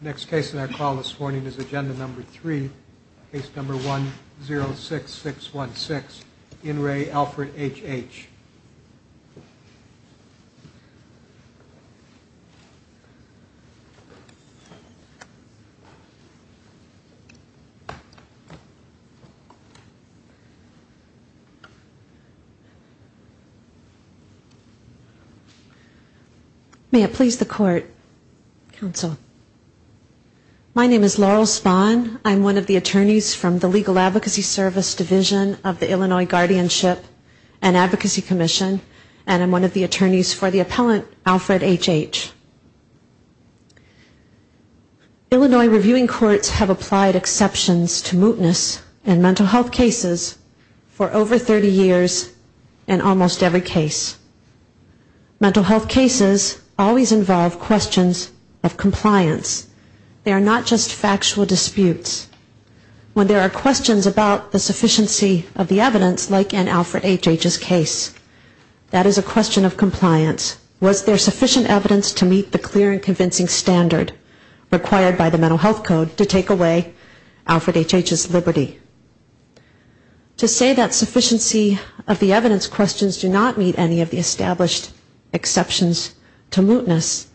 Next case in our call this morning is agenda number three, case number 106616, in re Alfred H.H. May it please the court, counsel. My name is Laurel Spahn. I'm one of the attorneys from the Legal Advocacy Service Division of the Illinois Guardianship and Advocacy Commission and I'm one of the attorneys for the appellant Alfred H.H. Illinois reviewing courts have applied exceptions to mootness in mental health cases for over 30 years in almost every case. Mental health cases always involve questions of compliance. They are not just factual disputes. When there are questions about the sufficiency of the evidence, like in Alfred H.H.'s case, that is a question of compliance. Was there sufficient evidence to meet the clear and convincing standard required by the mental health code to take away Alfred H.H.'s liberty? To say that sufficiency of the evidence questions do not meet any of the established exceptions to mootness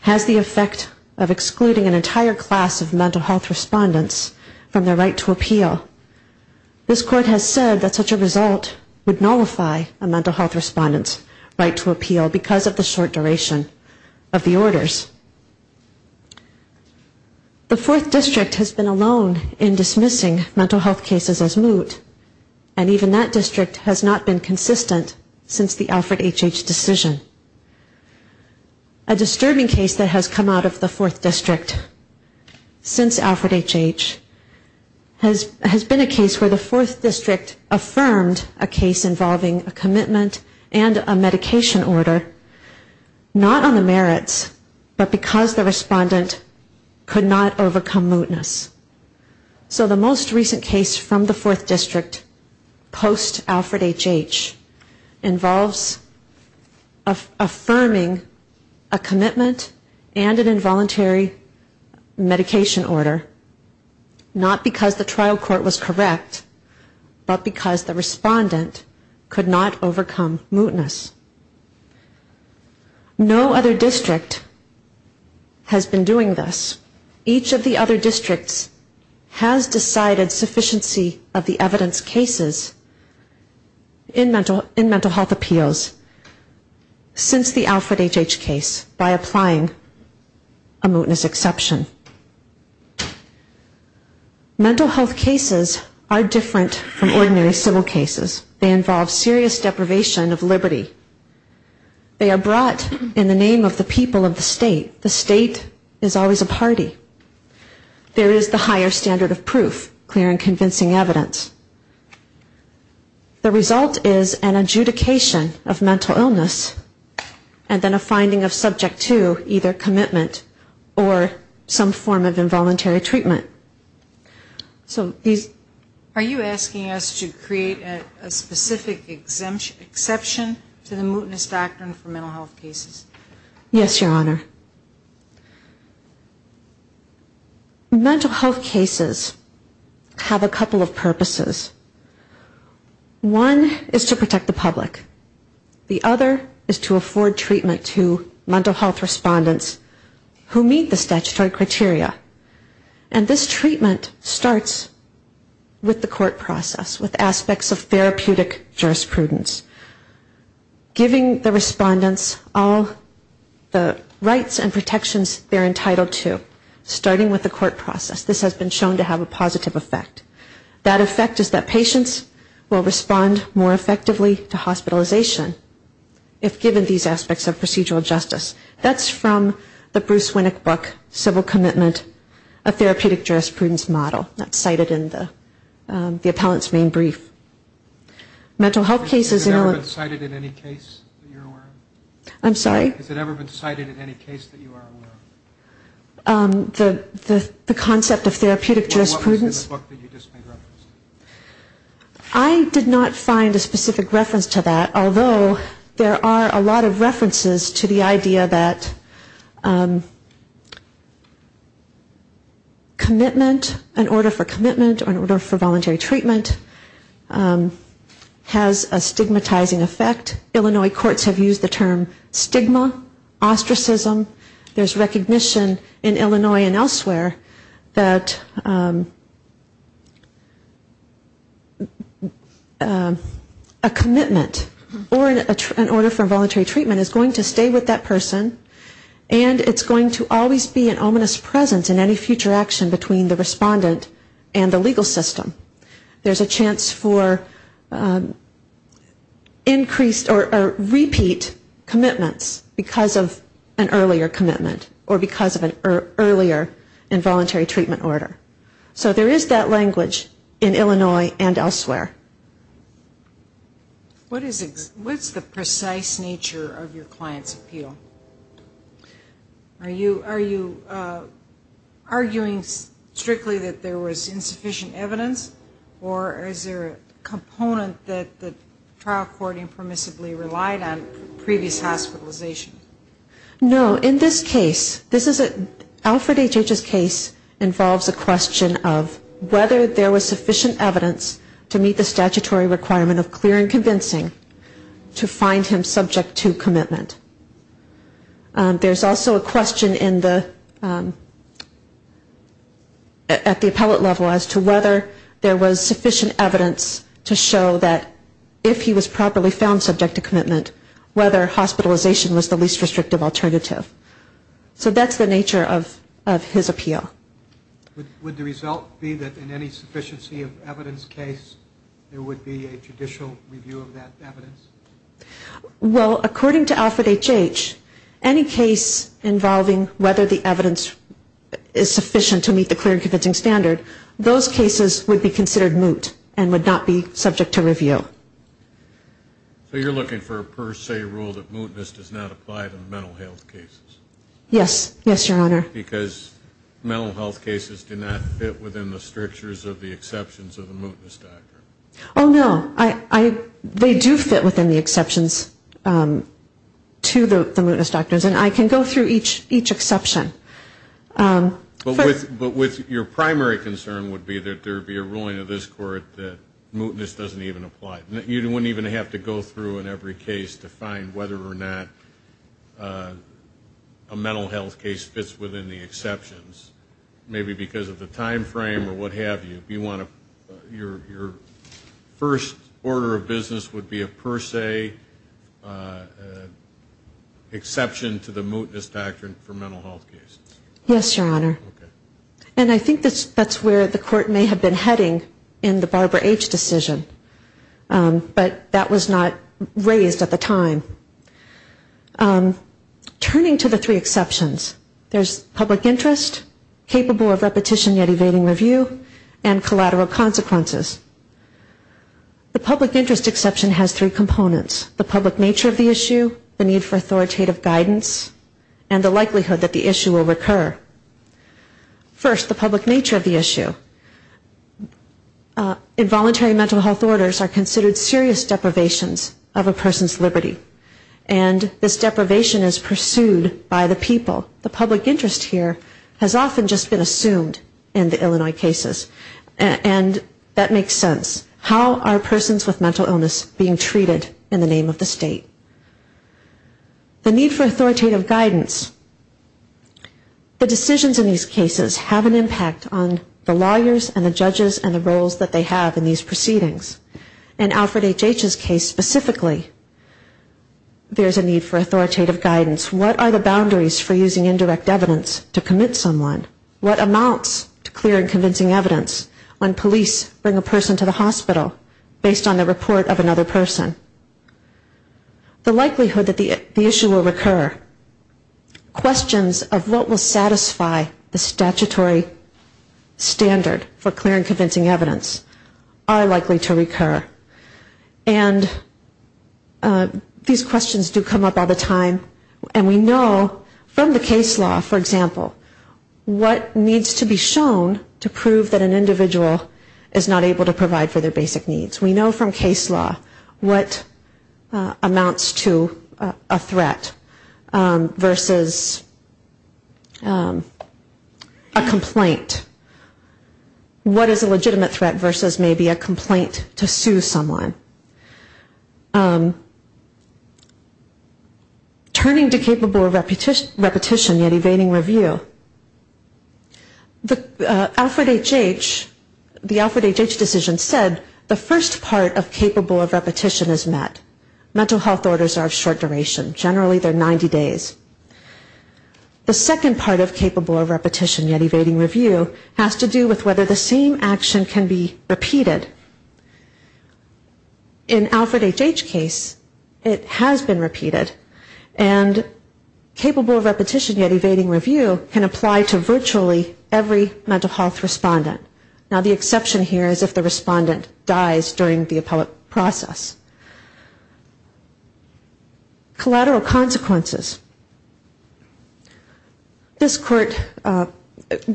has the effect of excluding an entire class of mental health respondents from their right to appeal. This court has said that such a result would nullify a mental health respondent's right to appeal because of the short duration of the orders. The fourth district has been alone in dismissing mental health cases as moot and even that district has not been consistent since the Alfred H.H. decision. A disturbing case that has come out of the fourth district since Alfred H.H. has been a case where the fourth district affirmed a case involving a commitment and a medication order not on the merits but because the respondent could not overcome mootness. So the most recent case from the fourth district post-Alfred H.H. involves affirming a commitment and an involuntary medication order not because the trial court was correct but because the respondent could not overcome mootness. No other district has been doing this. Each of the other districts has decided sufficiency of the evidence cases in mental health appeals since the Alfred H.H. case by applying a mootness exemption. Mental health cases are different from ordinary civil cases. They involve serious deprivation of liberty. They are brought in the name of the people of the state. The state is always a party. There is the higher standard of proof, clear and convincing evidence. The result is an adjudication of mental illness and then a finding of subject to either commitment or some form of involuntary treatment. So these... Are you asking us to create a specific exception to the mootness doctrine for mental health cases? Yes, Your Honor. Mental health cases have a couple of purposes. One is to protect the public. The other is to afford treatment to mental health respondents who meet the statutory criteria. And this treatment starts with the court process, with aspects of therapeutic jurisprudence, giving the respondents all the rights and protections they're entitled to, starting with the court process. This has been shown to have a positive effect. That effect is that patients will respond more effectively to aspects of procedural justice. That's from the Bruce Winnick book, Civil Commitment, A Therapeutic Jurisprudence Model. That's cited in the appellant's main brief. Mental health cases... Has it ever been cited in any case that you're aware of? I'm sorry? Has it ever been cited in any case that you are aware of? The concept of therapeutic jurisprudence... What was in the book that you just made reference to? I did not find a specific reference to that, although there are a lot of references to the idea that commitment, an order for commitment or an order for voluntary treatment has a stigmatizing effect. Illinois courts have used the term stigma, ostracism. There's recognition in Illinois and elsewhere that a commitment or an order for voluntary treatment is going to stay with that person and it's going to always be an ominous presence in any future action between the respondent and the legal system. There's a chance for increased or repeat commitments because of an earlier commitment or because of an earlier involuntary treatment order. So there is that language in Illinois and elsewhere. What is the precise nature of your client's appeal? Are you arguing strictly that there was insufficient evidence or is there a component that the trial court impermissibly relied on previous hospitalization? No. In this case, this is a... Alfred H.H.'s case involves a question of whether there was sufficient evidence to meet the statutory requirement of clear and convincing to find him subject to commitment. There's also a question at the appellate level as to whether there was sufficient evidence to meet the statutory requirement of clear and convincing to find him subject to commitment, whether hospitalization was the least restrictive alternative. So that's the nature of his appeal. Would the result be that in any sufficiency of evidence case there would be a judicial review of that evidence? Well, according to Alfred H.H., any case involving whether the evidence is sufficient to meet the clear and convincing standard, those cases would be considered moot and would not be subject to review. Thank you. Thank you. Thank you. Thank you. Thank you. So you're looking for a per se rule that mootness does not apply to mental health cases? Yes. Yes, Your Honor. Because mental health cases do not fit within the strictures of the exceptions of the mootness doctrine? Oh, no. They do fit within the exceptions to the mootness doctrines. And I can go through each exception. But your primary concern would be that there would be a ruling of this court that mootness doesn't even apply. You wouldn't even have to go through in every case to find whether or not a mental health case fits within the exceptions. Maybe because of the timeframe or what have you. Your first order of business would be a per se exception to the mootness doctrine for mental health cases. Yes, Your Honor. And I think that's where the court may have been heading in the Barbara H. decision. But that was not raised at the time. Turning to the three exceptions, there's public interest, capable of repetition yet evading review, and collateral consequences. The public interest exception has three components. The public nature of the issue, the need for authoritative guidance, and the likelihood that the issue will recur. First, the public nature of the issue. Involuntary mental health orders are considered serious deprivations of a person's liberty. And this deprivation is pursued by the people. The public interest here has often just been assumed in the Illinois cases. And that makes sense. How are persons with mental illness being treated in the name of the state? The need for authoritative guidance. The decisions in these cases have an impact on the lawyers and the judges and the roles that they have in these proceedings. In Alfred H. H.'s case specifically, there's a need for authoritative guidance. What are the boundaries for using indirect evidence to commit someone? What amounts to clear and convincing evidence when police bring a person to the hospital based on the report of another person? The likelihood that the issue will recur. Questions of what will satisfy the public are likely to recur. And these questions do come up all the time. And we know from the case law, for example, what needs to be shown to prove that an individual is not able to provide for their basic needs. We know from case law what amounts to a threat versus a complaint to sue someone. Turning to capable of repetition yet evading review. The Alfred H. H. decision said the first part of capable of repetition is met. Mental health orders are of short duration. Generally they're 90 days. The second part of capable of repetition yet evading review can be repeated. In Alfred H. H.'s case, it has been repeated. And capable of repetition yet evading review can apply to virtually every mental health respondent. Now the exception here is if the respondent dies during the appellate process. Collateral consequences. This court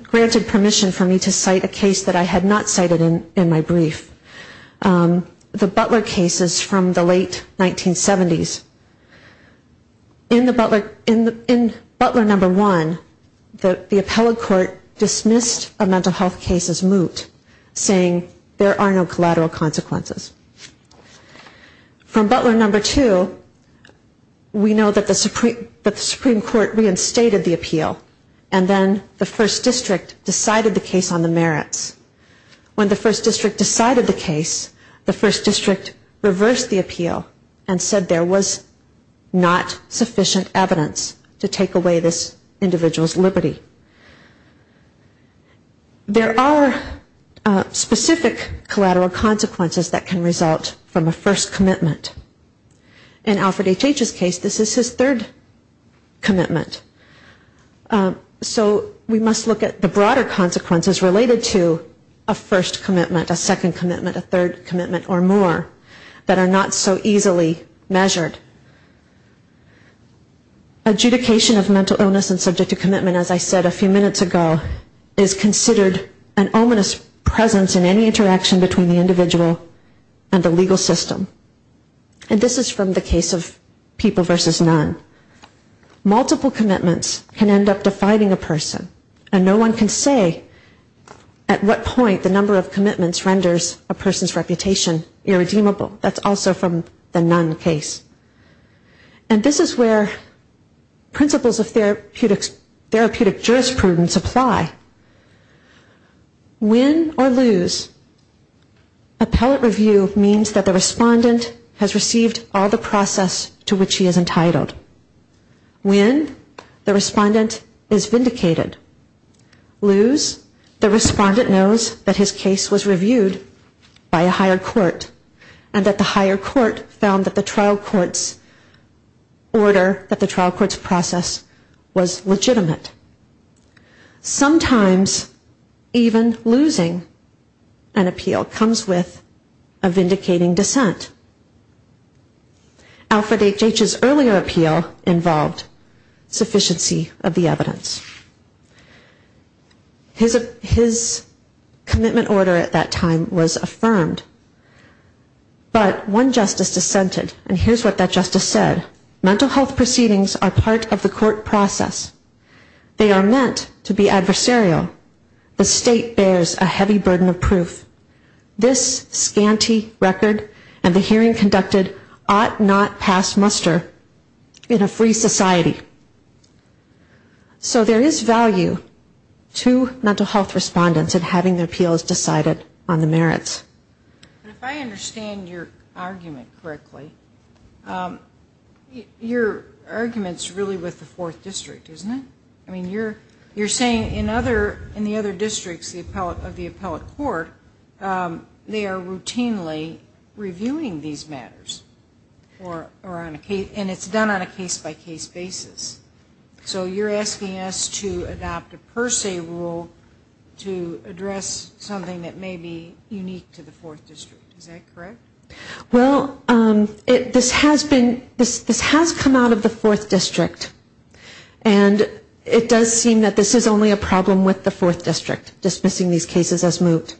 granted permission for me to cite a case that I had not cited in the case law. I had not cited in my brief. The Butler cases from the late 1970s. In Butler number one, the appellate court dismissed a mental health case as moot, saying there are no collateral consequences. From Butler number two, we know that the Supreme Court reinstated the appeal. And then the first district decided the case on the merits. When the first district decided the case, the first district reversed the appeal and said there was not sufficient evidence to take away this individual's liberty. There are specific collateral consequences that can result from a first commitment. In Alfred H. H.'s case, this is his third commitment. So we must look at the broader consequences related to a first commitment, a second commitment, a third commitment or more that are not so easily measured. Adjudication of mental illness and subject to commitment, as I said a few minutes ago, is considered an ominous presence in any interaction between the individual and the legal system. And this is from the case of people versus none. Multiple commitments can end up defining a person. And no one can say at what point the number of commitments renders a person's reputation irredeemable. That's also from the none case. And this is where principles of therapeutic jurisprudence apply. Win or lose, appellate review means that the respondent has a process to which he is entitled. Win, the respondent is vindicated. Lose, the respondent knows that his case was reviewed by a higher court and that the higher court found that the trial court's order, that the trial court's process was legitimate. Sometimes even losing an appeal comes with a vindicating dissent. Alfred H.H.'s earlier appeal involved sufficiency of the evidence. His commitment order at that time was affirmed. But one justice dissented and here's what that justice said. Mental health proceedings are part of the court process. They are meant to be adversarial. The state bears a heavy burden of proof. This scanty record and the hearing conducted ought not to be considered past muster in a free society. So there is value to mental health respondents in having their appeals decided on the merits. If I understand your argument correctly, your argument's really with the fourth district, isn't it? I mean, you're saying in the other districts of the appellate court, they are routinely reviewing these matters. Or are they reviewing these cases? And it's done on a case-by-case basis. So you're asking us to adopt a per se rule to address something that may be unique to the fourth district. Is that correct? Well, this has come out of the fourth district. And it does seem that this is only a problem with the fourth district, dismissing these cases as moot.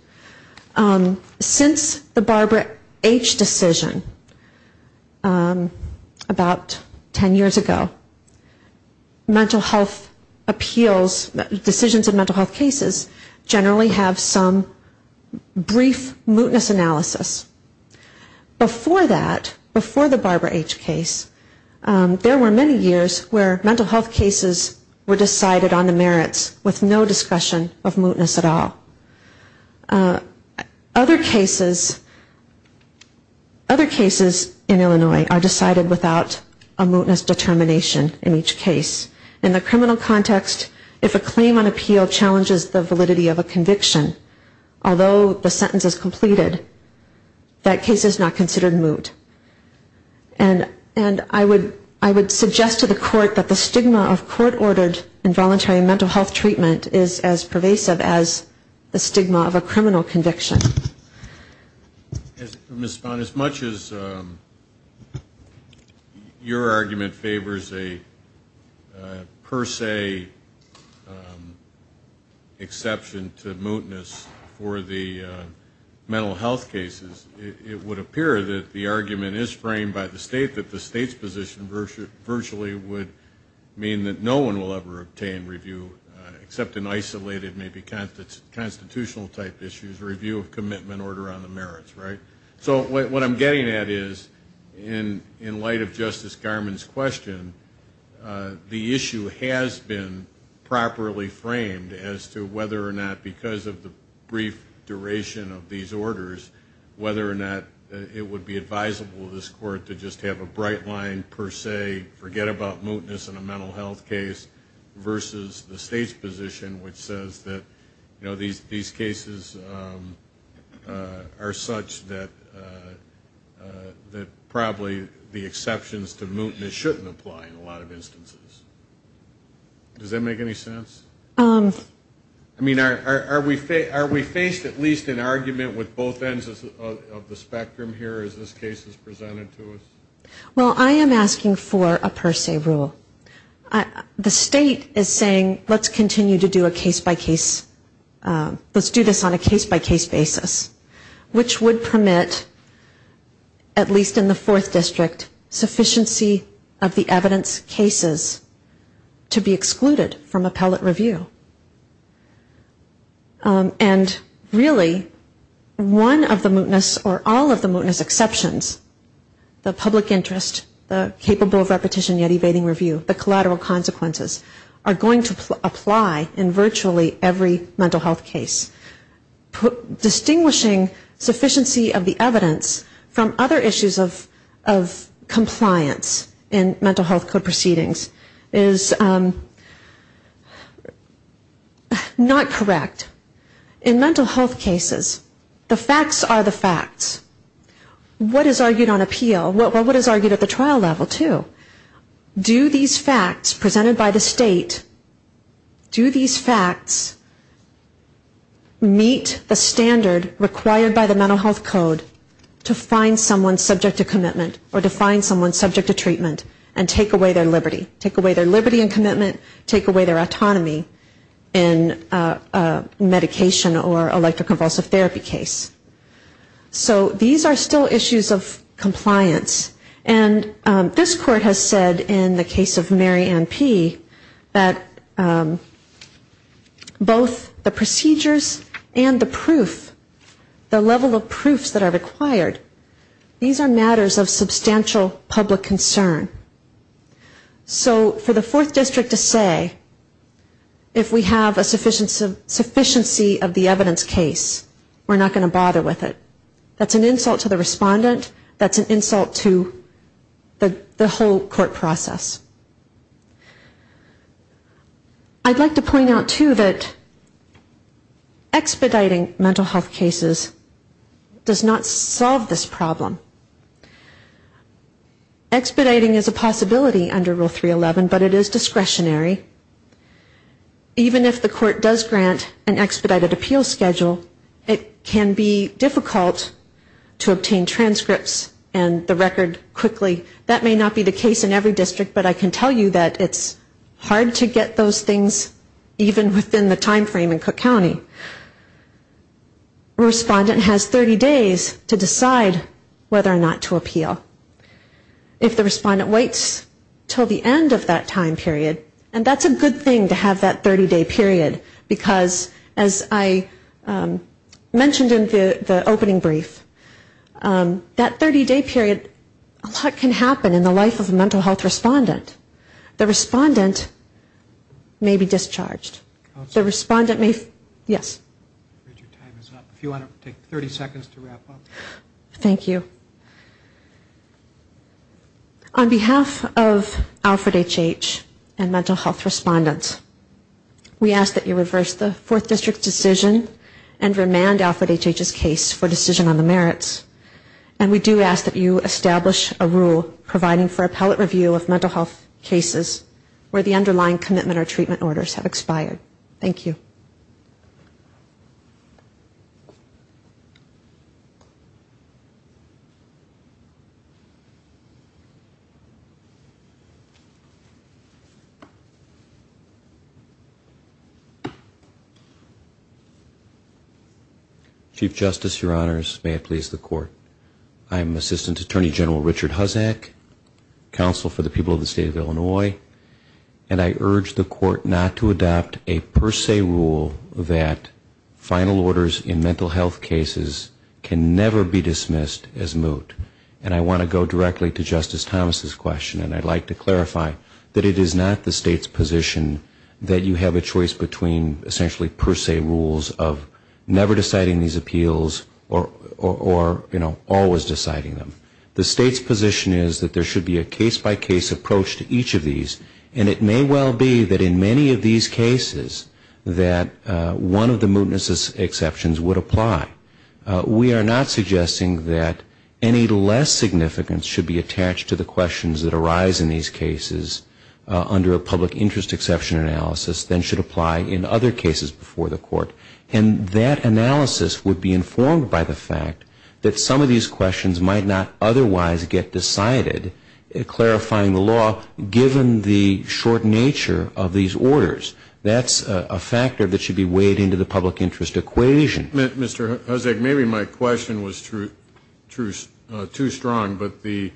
Since the Barbara H. decision, the fourth district has been the only district to have a case-by-case review of mental health cases. Before that, before the Barbara H. case, there were many years where mental health cases were decided on the merits with no discussion of mootness at all. Other cases, other cases in Illinois are decided on the merits without a mootness determination in each case. In the criminal context, if a claim on appeal challenges the validity of a conviction, although the sentence is completed, that case is not considered moot. And I would suggest to the court that the stigma of court-ordered involuntary mental health treatment is as pervasive as the stigma of a criminal conviction. As for Ms. Spahn, as much as your argument favors a per se exception to mootness for the mental health cases, it would appear that the argument is framed by the state that the state's position virtually would mean that no one will ever obtain review of commitment order on the merits, right? So what I'm getting at is, in light of Justice Garmon's question, the issue has been properly framed as to whether or not, because of the brief duration of these orders, whether or not it would be advisable to this court to just have a bright line per se, forget about mootness in a mental health case, versus the state's position that says that, you know, these cases are such that probably the exceptions to mootness shouldn't apply in a lot of instances. Does that make any sense? I mean, are we faced at least in argument with both ends of the spectrum here as this case is presented to us? Well, I am asking for a per se rule. The state is saying, let's continue to do a case-by-case, let's do this on a case-by-case basis, which would permit, at least in the Fourth District, sufficiency of the evidence cases to be excluded from appellate review. And really, one of the mootness, or all of the mootness exceptions, the public hearing, the public hearing, the public interest, the capable of repetition, yet evading review, the collateral consequences, are going to apply in virtually every mental health case. Distinguishing sufficiency of the evidence from other issues of compliance in mental health proceedings is not correct. In mental health cases, this is argued at the trial level, too. Do these facts presented by the state, do these facts meet the standard required by the mental health code to find someone subject to commitment or to find someone subject to treatment and take away their liberty, take away their liberty and commitment, take away their autonomy in a medication or electroconvulsive therapy case? So these are still issues of compliance. And this court has said in the case of Mary Ann P. that both the procedures and the proof, the level of proofs that are required, these are matters of substantial public concern. So for the Fourth District to say, if we have a sufficiency of the evidence case, we're not going to bother with it. That's an insult to the respondent. That's an insult to the whole court process. I'd like to point out, too, that expediting mental health cases does not solve this problem. Expediting is a possibility under Rule 311, but it is discretionary. Even if the court does grant an expedited appeal schedule, it can be difficult to obtain an expedited appeal schedule. It's difficult to obtain transcripts and the record quickly. That may not be the case in every district, but I can tell you that it's hard to get those things even within the time frame in Cook County. A respondent has 30 days to decide whether or not to appeal. If the respondent waits until the end of that time period, and that's a good thing to have that 30-day period, because as I mentioned in the opening brief, that 30-day period, a lot can happen in the life of a mental health respondent. The respondent may be discharged. The respondent may, yes? If you want to take 30 seconds to wrap up. Thank you. On behalf of Alfred H.H. and mental health respondents, we ask that you reverse the Fourth District's decision and remand Alfred H.H.'s case for decision on the merits, and we do ask that you establish a rule providing for appellate review of mental health cases where the underlying commitment or treatment orders have expired. Thank you. Chief Justice, Your Honors, may it please the Court, I'm Assistant Attorney General Richard Huzzack, Counsel for the People of the State of Illinois, and I urge the Court not to adopt a per se rule that final orders in mental health cases can never be dismissed as moot. And I want to go directly to Justice Thomas' question, and I'd like to clarify that it is not the State's position that you have a case-by-case approach to each of these, and it may well be that in many of these cases that one of the mootness exceptions would apply. We are not suggesting that any less significance should be attached to the questions that arise in these cases under a public interest exception analysis than should apply in other cases before the Court. And that analysis would be a case-by-case approach to each of these cases, and the State's position is that the public interest would be informed by the fact that some of these questions might not otherwise get decided, clarifying the law, given the short nature of these orders. That's a factor that should be weighed into the public interest equation. Mr. Huzzack, maybe my question was too strong, but the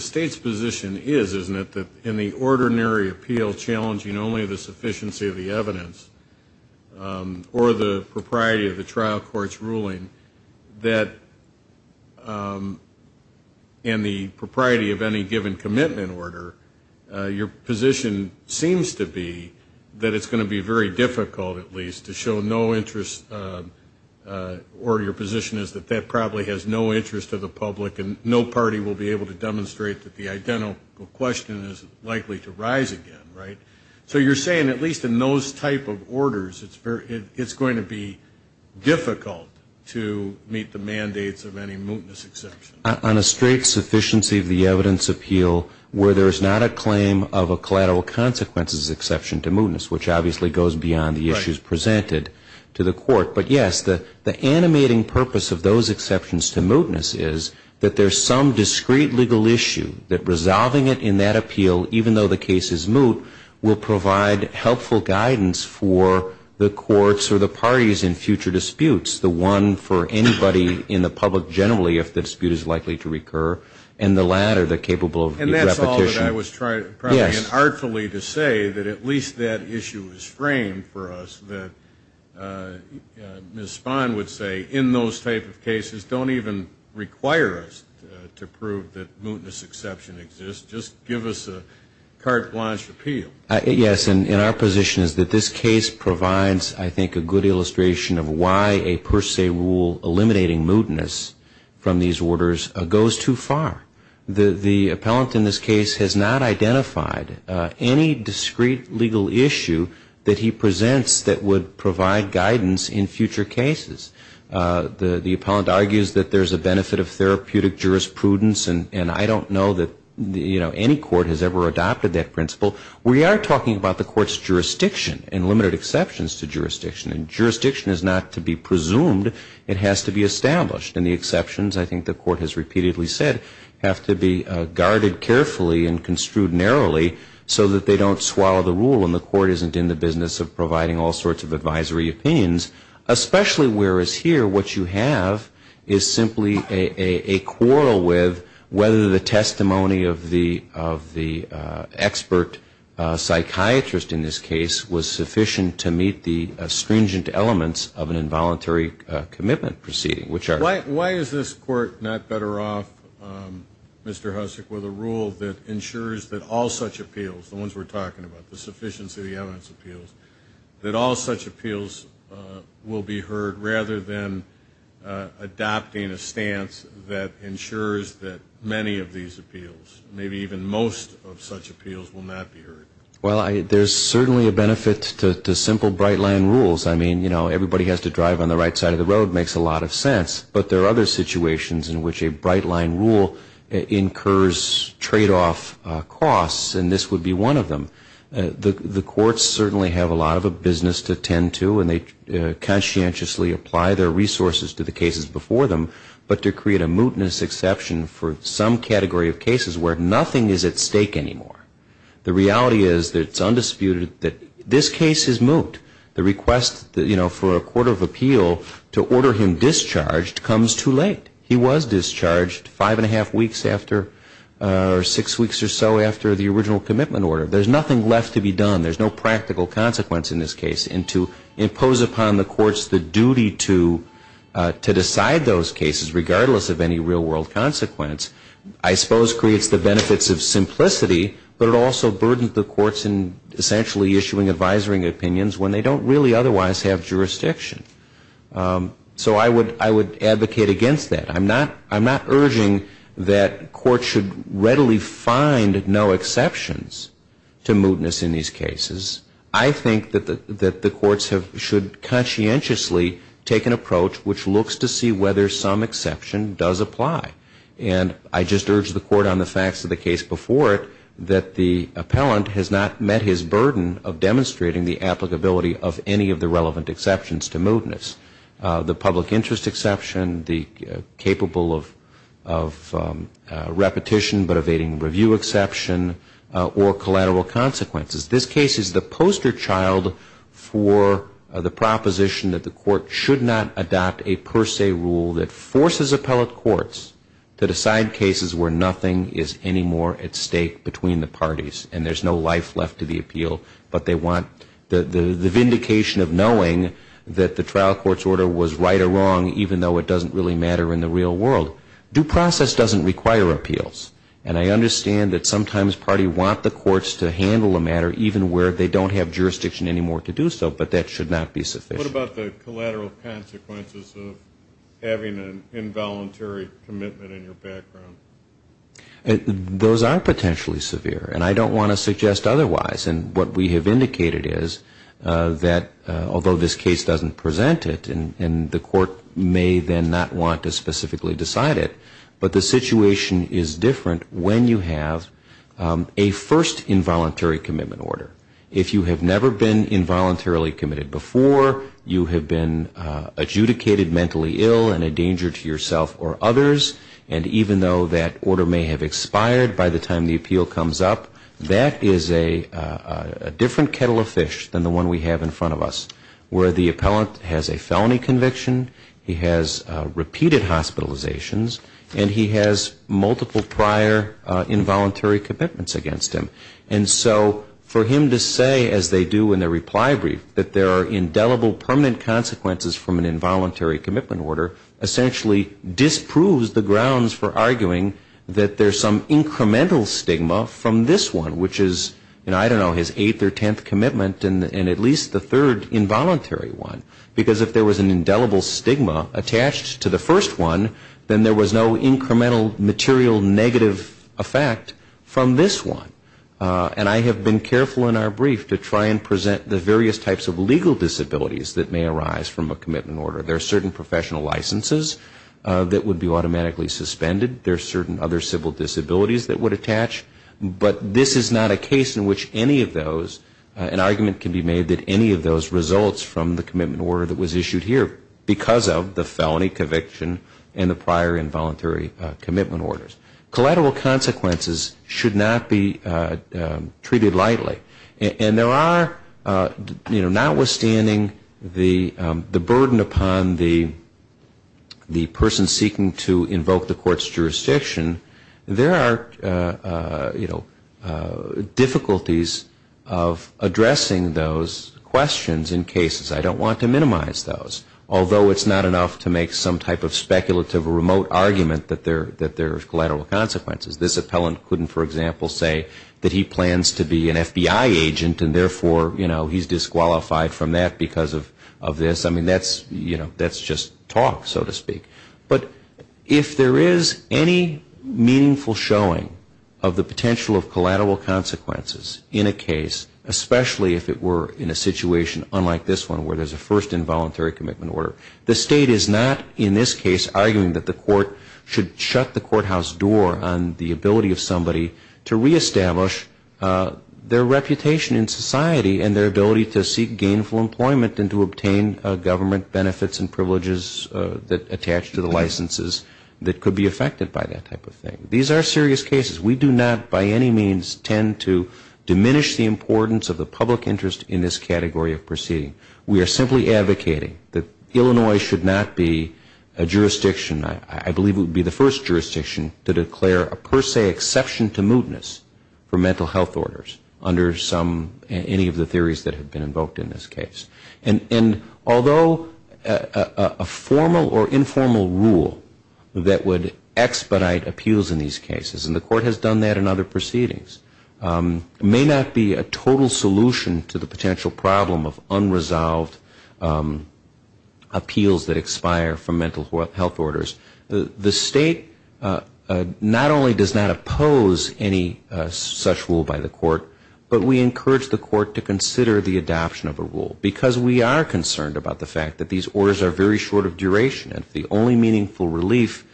State's position is, isn't it, that in the ordinary appeal challenging only the propriety of the trial court's ruling, that in the propriety of any given commitment order, your position seems to be that it's going to be very difficult, at least, to show no interest, or your position is that that probably has no interest to the public and no party will be able to demonstrate that the identical question is likely to rise again, right? So you're saying, at least in those type of orders, it's going to be difficult to meet the mandates of any mootness exception? On a straight sufficiency of the evidence appeal, where there's not a claim of a collateral consequences exception to mootness, which obviously goes beyond the issues presented to the Court. But, yes, the animating purpose of those exceptions to mootness is that there's some discreet legal issue that resolving it in that appeal, even though the case is moot, will not be an issue. It will provide helpful guidance for the courts or the parties in future disputes, the one for anybody in the public generally, if the dispute is likely to recur, and the latter, the capable of repetition. And that's all that I was trying, probably unartfully, to say, that at least that issue is framed for us, that Ms. Spahn would say, in those type of cases, don't even require us to prove that mootness exception exists, just give us a carte blanche appeal. Yes, and our position is that this case provides, I think, a good illustration of why a per se rule eliminating mootness from these orders goes too far. The appellant in this case has not identified any discreet legal issue that he presents that would provide guidance in future cases. The appellant argues that there's a benefit of therapeutic jurisprudence, and I don't know that, you know, any court has ever adopted that approach. I'm talking about the court's jurisdiction and limited exceptions to jurisdiction, and jurisdiction is not to be presumed, it has to be established, and the exceptions, I think the court has repeatedly said, have to be guarded carefully and construed narrowly so that they don't swallow the rule and the court isn't in the business of providing all sorts of advisory opinions, especially whereas here, what you have is simply a quarrel with whether the testimony of the expert psychiatrist, whether the testimony of the lawyer, whether the testimony of the psychiatrist in this case was sufficient to meet the stringent elements of an involuntary commitment proceeding, which are... Why is this court not better off, Mr. Hussock, with a rule that ensures that all such appeals, the ones we're talking about, the sufficiency of the evidence appeals, that all such appeals will be heard rather than adopting a stance that ensures that many of these appeals, maybe even most of such appeals, will not be heard? Well, there's certainly a benefit to simple bright-line rules. I mean, you know, everybody has to drive on the right side of the road, makes a lot of sense, but there are other situations in which a bright-line rule incurs trade-off costs, and this would be one of them. The courts certainly have a lot of a business to tend to, and they conscientiously apply their resources to the cases before them, but to create a mootness exception for some category of cases where nothing is at stake anymore. The reality is that it's undisputed that this case is moot. The request, you know, for a court of appeal to order him discharged comes too late. He was discharged five-and-a-half weeks after, or six weeks or so after the original commitment order. There's nothing left to be done. There's no practical consequence in this case, and to impose upon the courts the duty to decide those cases, regardless of any real-world consequence, I suppose creates the benefits of simplicity, but it also burdens the courts in essentially issuing advisory opinions when they don't really otherwise have jurisdiction. So I would advocate against that. I'm not urging that courts should readily find no exceptions to mootness in these cases. I think that the courts should conscientiously take an approach which looks to see whether some exception does apply. And I just urge the court on the facts of the case before it that the appellant has not met his burden of demonstrating the applicability of any of the relevant exceptions to mootness. The public interest exception, the capable of repetition but evading review exception, or collateral consequences. This case is the proposition that the court should not adopt a per se rule that forces appellate courts to decide cases where nothing is any more at stake between the parties, and there's no life left to the appeal, but they want the vindication of knowing that the trial court's order was right or wrong, even though it doesn't really matter in the real world. Due process doesn't require appeals. And I understand that sometimes parties want the courts to handle a matter even where they don't have jurisdiction any more to do so, but that should not be sufficient. What about the collateral consequences of having an involuntary commitment in your background? Those are potentially severe, and I don't want to suggest otherwise. And what we have indicated is that although this case doesn't present it, and the court may then not want to specifically decide it, but the situation is different when you have a first involuntary commitment in your background, and you have an involuntary commitment order. If you have never been involuntarily committed before, you have been adjudicated mentally ill and a danger to yourself or others, and even though that order may have expired by the time the appeal comes up, that is a different kettle of fish than the one we have in front of us, where the appellant has a felony conviction, he has repeated hospitalizations, and he has multiple prior involuntary commitments against him. And so for him to say, as they do in the reply brief, that there are indelible permanent consequences from an involuntary commitment order, essentially disproves the grounds for arguing that there's some incremental stigma from this one, which is, I don't know, his eighth or tenth commitment, and at least the third involuntary one. Because if there was an indelible stigma attached to the first one, then there was no incremental material negative effect from this one. And I have been careful in our brief to try and present the various types of legal disabilities that may arise from a commitment order. There are certain professional licenses that would be automatically suspended. There are certain other civil disabilities that would attach. But this is not a case in which any of those, an argument can be made that any of those results from the commitment order that was issued here because of the felony conviction and the prior involuntary commitment orders. Collateral consequences should not be treated lightly. And there are, you know, notwithstanding the burden upon the person seeking to invoke the court's jurisdiction, there are, you know, difficulties of addressing those questions in a way that is not just a matter of, you know, I don't want to minimize those. Although it's not enough to make some type of speculative or remote argument that there's collateral consequences. This appellant couldn't, for example, say that he plans to be an FBI agent and therefore, you know, he's disqualified from that because of this. I mean, that's, you know, that's just talk, so to speak. But if there is any meaningful showing of the potential of collateral consequences in a case, especially if it were in a situation unlike this one where there's a first involuntary commitment order, the State is not in this case arguing that the court should shut the courthouse door on the ability of somebody to reestablish their reputation in society and their ability to seek gainful employment and to obtain government benefits and privileges that attach to the licenses that could be affected by that type of case. We do not by any means tend to diminish the importance of the public interest in this category of proceeding. We are simply advocating that Illinois should not be a jurisdiction, I believe it would be the first jurisdiction to declare a per se exception to mootness for mental health orders under some, any of the theories that have been invoked in this case. And although a formal or informal rule that would expedite appeals in these cases, and the court has done that in other proceedings, may not be a total solution to the potential problem of unresolved appeals that expire from mental health orders. The State not only does not oppose any such rule by the court, but we encourage the court to consider the adoption of a rule. Because we are concerned about the fact that these orders are very short of duration and the only way to obtain meaningful relief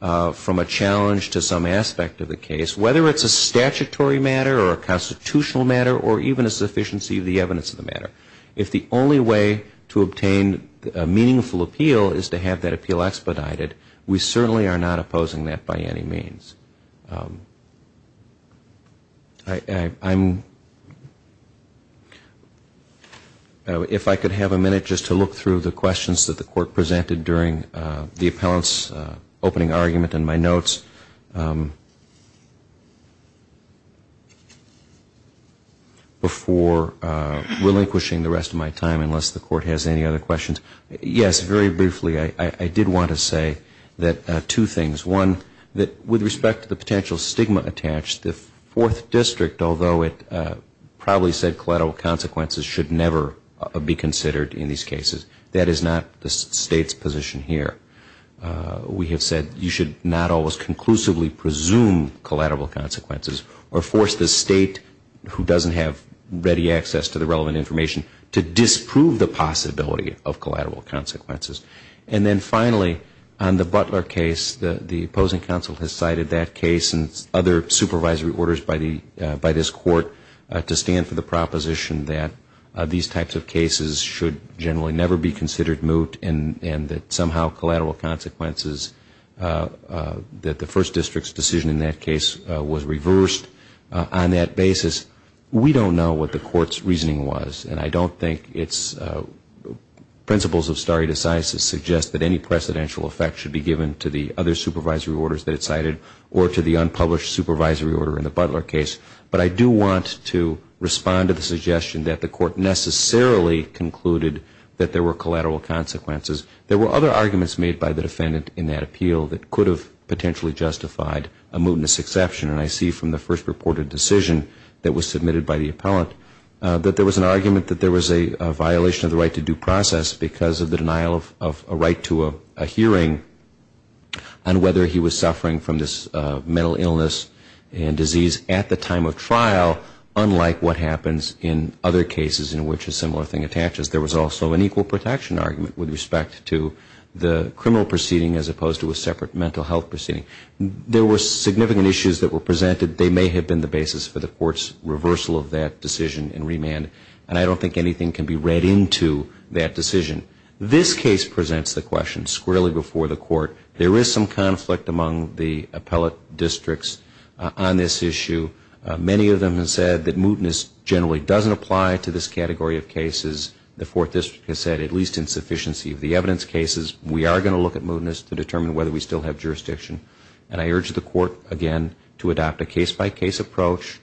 from a challenge to some aspect of the case, whether it's a statutory matter or a constitutional matter or even a sufficiency of the evidence of the matter, if the only way to obtain a meaningful appeal is to have that appeal expedited, we certainly are not opposing that by any means. I'm, if I could have a minute just to look through the questions that the court presented during the appellant's opening argument and my notes, before relinquishing the rest of my time, unless the court has any other questions. Yes, very briefly, I did want to say that two things. One, that with respect to the potential stigma attached, the Fourth District, although it probably said collateral consequences should never be considered in these cases, that is not the State's position here. We have said you should not always conclusively presume collateral consequences or force the State, who doesn't have ready access to the relevant information, to disprove the possibility of collateral consequences. And then finally, on the Butler case, the opposing counsel has cited that case and other supervisory orders by this court to stand for the proposition that these types of cases should generally never be considered moot and that somehow collateral consequences, that the First District's decision in that case was reversed on that basis. We don't know what the court's reasoning was. And I don't think its principles of stare decisis suggest that any precedential effect should be given to the other supervisory orders that it cited or to the unpublished supervisory order in the Butler case. But I do want to respond to the suggestion that the court necessarily concluded that there were collateral consequences. There were other arguments made by the defendant in that appeal that could have potentially justified a mootness exception, and I see from the first reported decision that was submitted by the appellant that there was an argument that there was a violation of the right to due process because of the denial of a right to a hearing on whether he was suffering from this mental illness and disease at the time of trial, unlike what happens in other cases in which a similar thing attaches. There was also an equal protection argument with respect to the criminal proceeding as opposed to a separate mental health proceeding. There were significant issues that were presented. They may have been the basis for the court's reversal of that decision in remand, and I don't think anything can be read into that decision. This case presents the question squarely before the court. There is some conflict among the appellate districts on this issue. Many of them have said that mootness generally doesn't apply to this category of cases. The Fourth District has said at least in sufficiency of the evidence cases, we are going to look at mootness to determine whether we still have jurisdiction, and I urge the court again to adopt a case-by-case approach,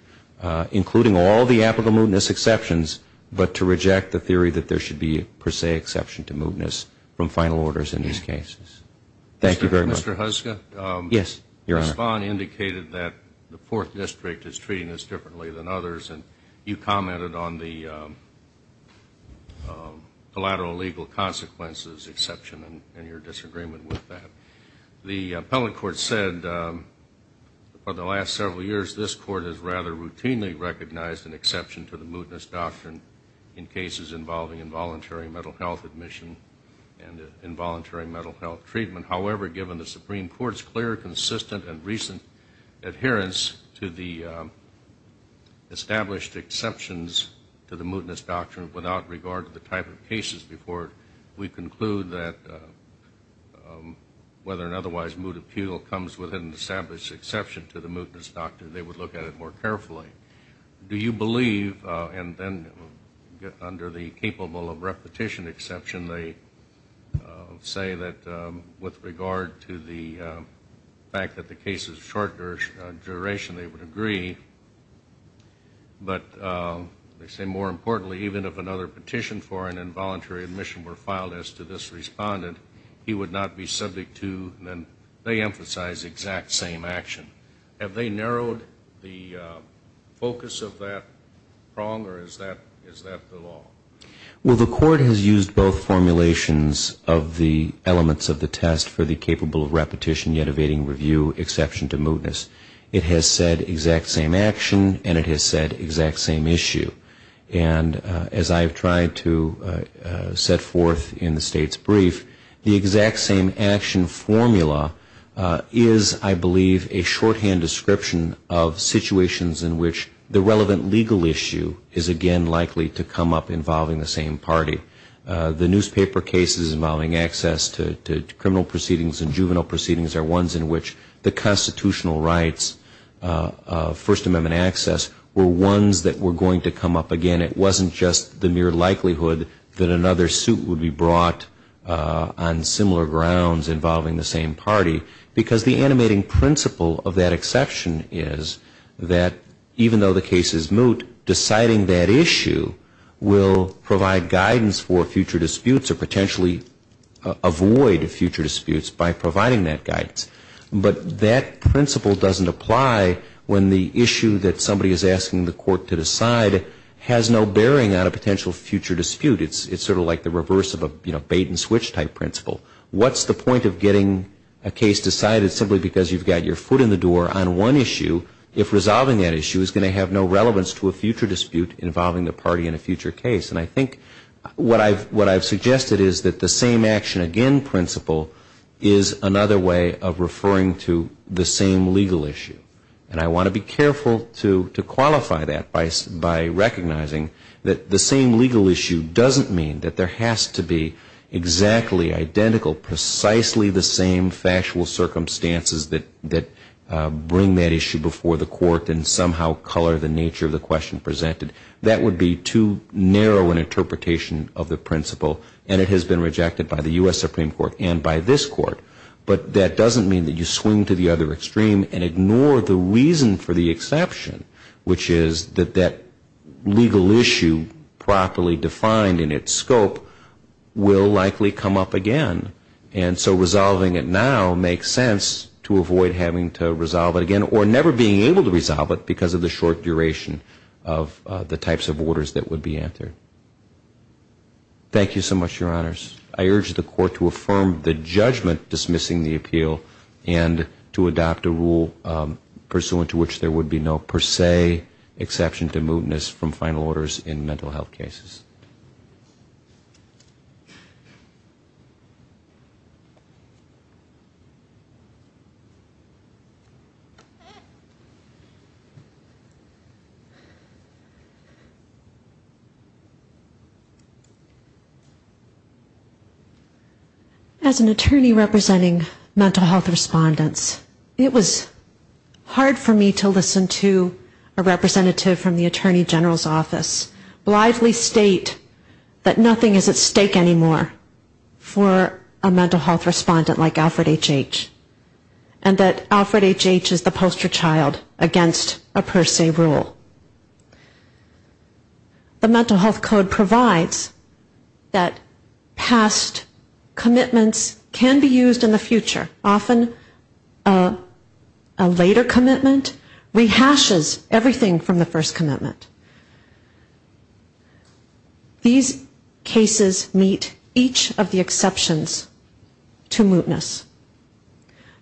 including all the applicable mootness exceptions, but to reject the theory that there should be per se exception to mootness from final orders in these cases. Thank you very much. Mr. Huska, Ms. Vaughn indicated that the Fourth District is treating this differently than others, and you commented on the collateral legal consequences, exception, and your disagreement with that. The appellate court said, for the last several years, this court has rather routinely recognized an exception to the mootness doctrine in cases involving involuntary mental health admission and involuntary mental health treatment. However, given the Supreme Court's clear, consistent, and recent adherence to the established exceptions to the mootness doctrine without regard to the type of cases before it, we conclude that whether or otherwise moot appeal comes within the established exception to the mootness doctrine, they would look at it more carefully. Do you believe, and then under the capable of repetition exception, they say that with regard to the fact that the case is shorter duration, they would agree, but they say, more importantly, even if another particular exception is used, they would look at it more carefully, and if a petition for an involuntary admission were filed as to this respondent, he would not be subject to, then they emphasize exact same action. Have they narrowed the focus of that prong, or is that the law? Well, the court has used both formulations of the elements of the test for the capable of repetition yet evading review exception to mootness. It has said exact same action, and it has said exact same issue. And as I have tried to set forth in the state's brief, the exact same action formula is, I believe, a shorthand description of situations in which the relevant legal issue is again likely to come up involving the same party. The newspaper cases involving access to criminal proceedings and juvenile proceedings are ones in which the constitutional rights of First Amendment cases are going to come up again. It wasn't just the mere likelihood that another suit would be brought on similar grounds involving the same party, because the animating principle of that exception is that even though the case is moot, deciding that issue will provide guidance for future disputes or potentially avoid future disputes by providing that guidance. But that principle doesn't apply when the issue that somebody is asking the court to decide has no bearing on a potential future dispute. It's sort of like the reverse of a bait and switch type principle. What's the point of getting a case decided simply because you've got your foot in the door on one issue if resolving that issue is going to have no relevance to a future dispute involving the party in a future case? And I think what I've suggested is that the same action again principle is another way of referring to the same legal issue. And I want to be careful to qualify that by recognizing that the same legal issue doesn't mean that there has to be exactly identical, precisely the same factual circumstances that bring that issue before the court and somehow color the nature of the question presented. That would be too narrow an interpretation of the principle, and it has been rejected by the U.S. Supreme Court and by this court. But that doesn't mean that you swing to the other extreme and ignore the reason for the exception, which is that that legal issue properly defined in its scope will likely come up again. And so resolving it now makes sense to avoid having to resolve it again or never being able to resolve it because of the short duration of the types of orders that would be answered. Thank you so much, Your Honors. I urge the Court to affirm the judgment dismissing the appeal and to adopt a rule pursuant to which there would be no per se exception to mootness from final orders in mental health cases. Thank you. As an attorney representing mental health respondents, it was hard for me to listen to a representative from the Attorney General's office blithely state that nothing is at stake anymore for a mental health respondent like Alfred H.H. and that Alfred H.H. is the poster child against a per se rule. The Mental Health Code provides that past commitments can be used in the future. Often a later commitment rehashes everything from the first commitment. These cases meet each of the exceptions to mootness.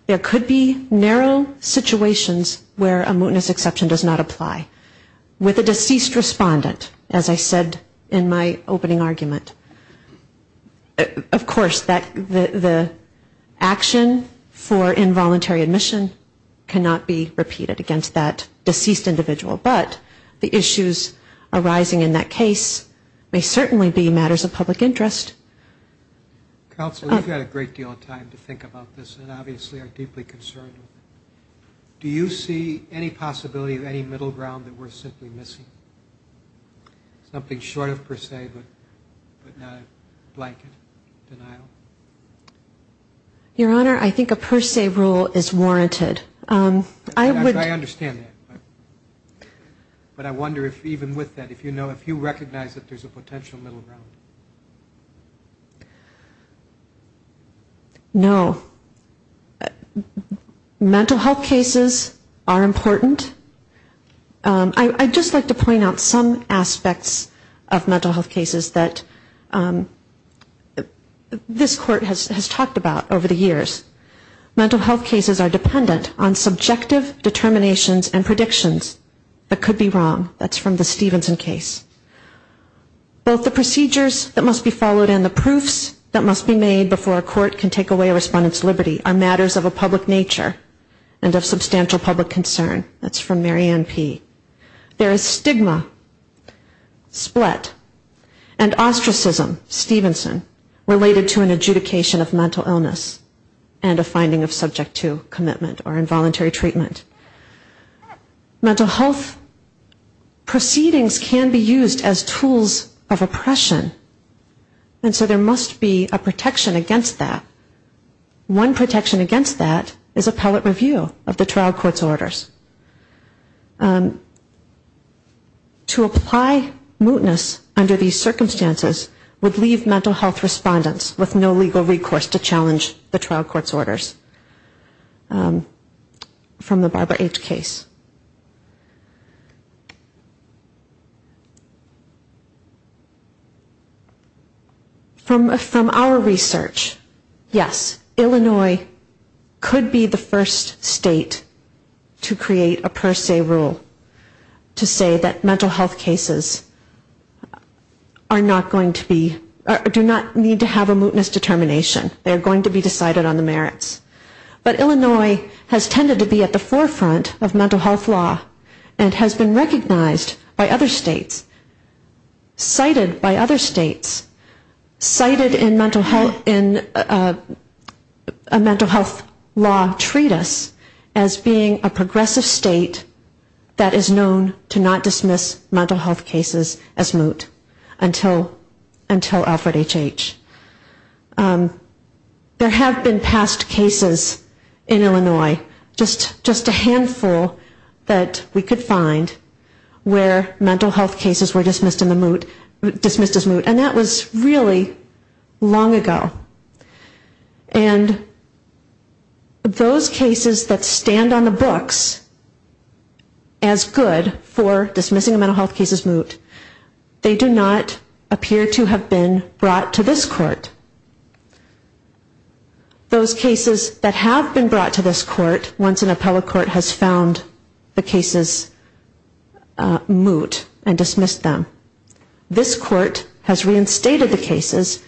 There could be narrow situations where a mootness exception does not apply. With a deceased respondent, as I said in my opening argument, of course the action for involuntary admission cannot be repeated against that deceased individual, but the issues arising in that case may certainly be matters of public interest. Counsel, we've had a great deal of time to think about this and obviously are deeply concerned. Do you see any possibility of any middle ground that we're simply missing? Something short of per se, but not a blanket denial? Your Honor, I think a per se rule is warranted. I understand that, but I wonder if even with that, if you recognize that there's a potential middle ground. No. Mental health cases are important. I'd just like to point out some aspects of mental health cases that this Court has talked about over the years. Mental health cases are dependent on subjective determinations and predictions that could be wrong. That's from the Stevenson case. Both the procedures that must be followed and the proofs that must be made before a court can take away a respondent's liberty are matters of a public nature and of substantial public concern. That's from Mary Ann P. There is stigma, split, and ostracism, Stevenson, related to an adjudication of mental illness and a finding of subject to commitment or involuntary treatment. Mental health proceedings can be used as tools of oppression, and so there must be a protection against that. One protection against that is appellate review of the trial court's orders. To apply mootness under these circumstances would leave mental health respondents with no legal recourse to challenge the trial court's orders. That's from the Barbara H. case. From our research, yes, Illinois could be the first state to create a per se rule to say that mental health cases are not going to be, do not need to have a mootness determination. They are going to be decided on the merits. But Illinois has tended to be at the forefront of mental health law and has been recognized by other states, cited by other states, cited in a mental health law treatise as being a progressive state that is known to not dismiss mental health cases as moot until Alfred H. H. There have been past cases in Illinois, just a handful that we could find, where mental health cases were dismissed as moot, and that was really long ago. And those cases that stand on the books as good for dismissing a mental health case as moot, they do not appear to have been brought to this court. Those cases that have been brought to this court, once an appellate court has found the cases moot and dismissed them, this court has reinstated the cases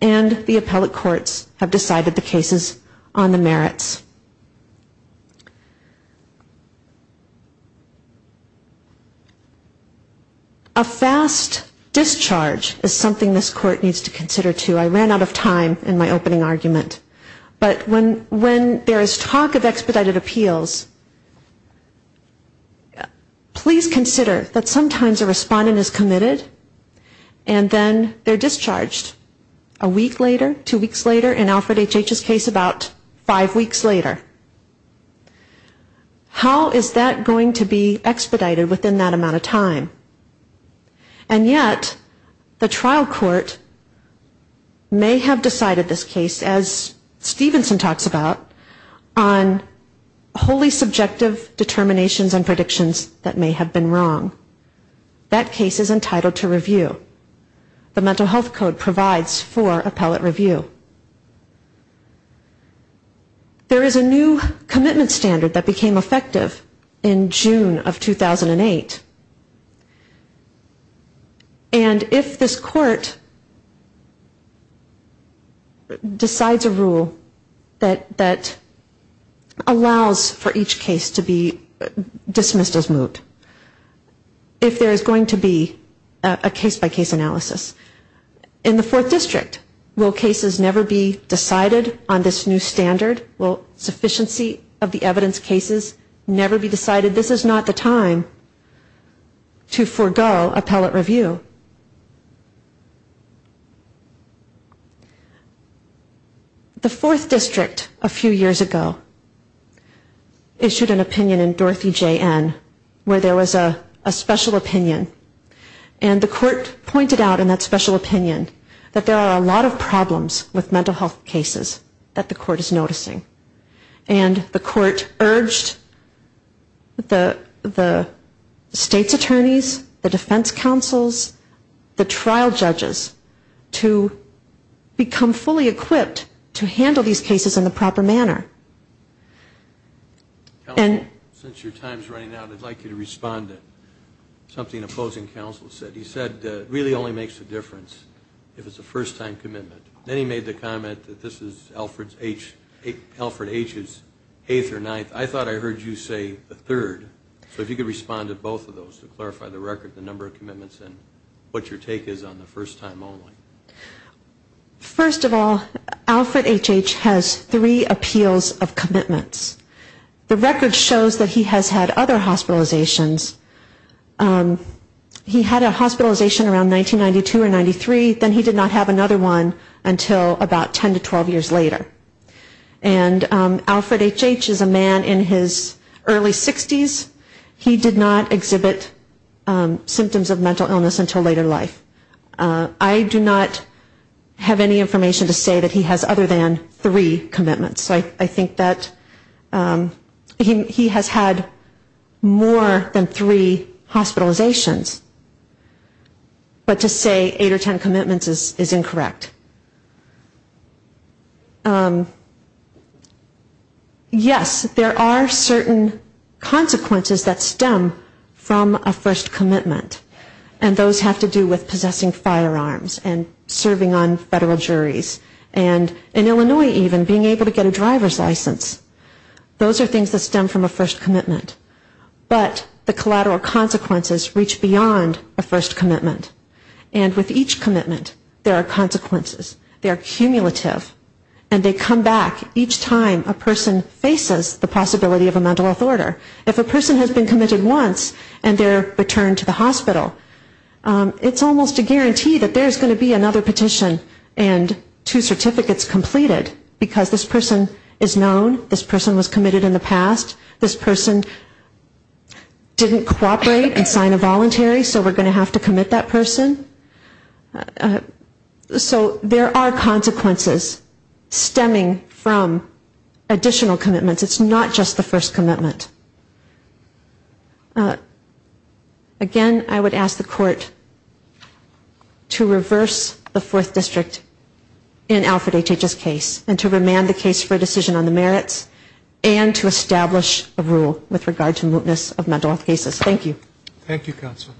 and the appellate courts have decided the cases on the merits. A fast discharge is something this court needs to consider, too. I ran out of time in my opening argument, but when there is talk of expedited appeals, please consider that sometimes a respondent is committed and then they are discharged a week later, two weeks later, in Alfred H. H.'s case about five weeks later. How is that going to be expedited within that amount of time? And yet the trial court may have decided this case, as Stevenson talks about, on wholly subjective determinations and predictions that may have been wrong. That case is entitled to review. The mental health code provides for appellate review. There is a new commitment standard that became effective in June of 2008, and if this court decides a rule that allows for each case to be dismissed as moot, if there is going to be a case-by-case analysis, in the fourth district, will cases be dismissed as moot? Will cases never be decided on this new standard? Will sufficiency of the evidence cases never be decided? This is not the time to forego appellate review. The fourth district a few years ago issued an opinion in Dorothy J. N. where there was a special opinion, and the court pointed out in that special opinion that there are problems with mental health cases that the court is noticing. And the court urged the state's attorneys, the defense counsels, the trial judges, to become fully equipped to handle these cases in the proper manner. And... And then he made the comment that this is Alfred H.'s eighth or ninth. I thought I heard you say the third. So if you could respond to both of those to clarify the record, the number of commitments, and what your take is on the first time only. First of all, Alfred H.H. has three appeals of commitments. The record shows that he has had other hospitalizations. He had a mental health condition that he was on until about 10 to 12 years later. And Alfred H.H. is a man in his early 60s. He did not exhibit symptoms of mental illness until later life. I do not have any information to say that he has other than three commitments. I think that he has had more than three hospitalizations, but to say eight or ten commitments is incorrect. Yes, there are certain consequences that stem from a first commitment. And those have to do with possessing firearms and serving on federal juries. And in Illinois even, being able to get a driver's license. Those are things that stem from a first commitment. But the collateral consequences reach beyond a first commitment. And with each commitment, there are consequences. They are cumulative. And they come back each time a person faces the possibility of a mental health order. If a person has been committed once, and they're returned to the hospital, it's almost a guarantee that there's going to be another petition and two certificates completed because this person is known, this person was committed in the past, this person didn't cooperate and sign a voluntary, so we're going to have to commit that person. There are consequences stemming from additional commitments. It's not just the first commitment. Again, I would ask the court to reverse the Fourth District in Alfred H.H.'s case and to remand the case for a decision on the merits and to establish a rule with regard to mootness of mental health cases. Thank you. Thank you, counsel.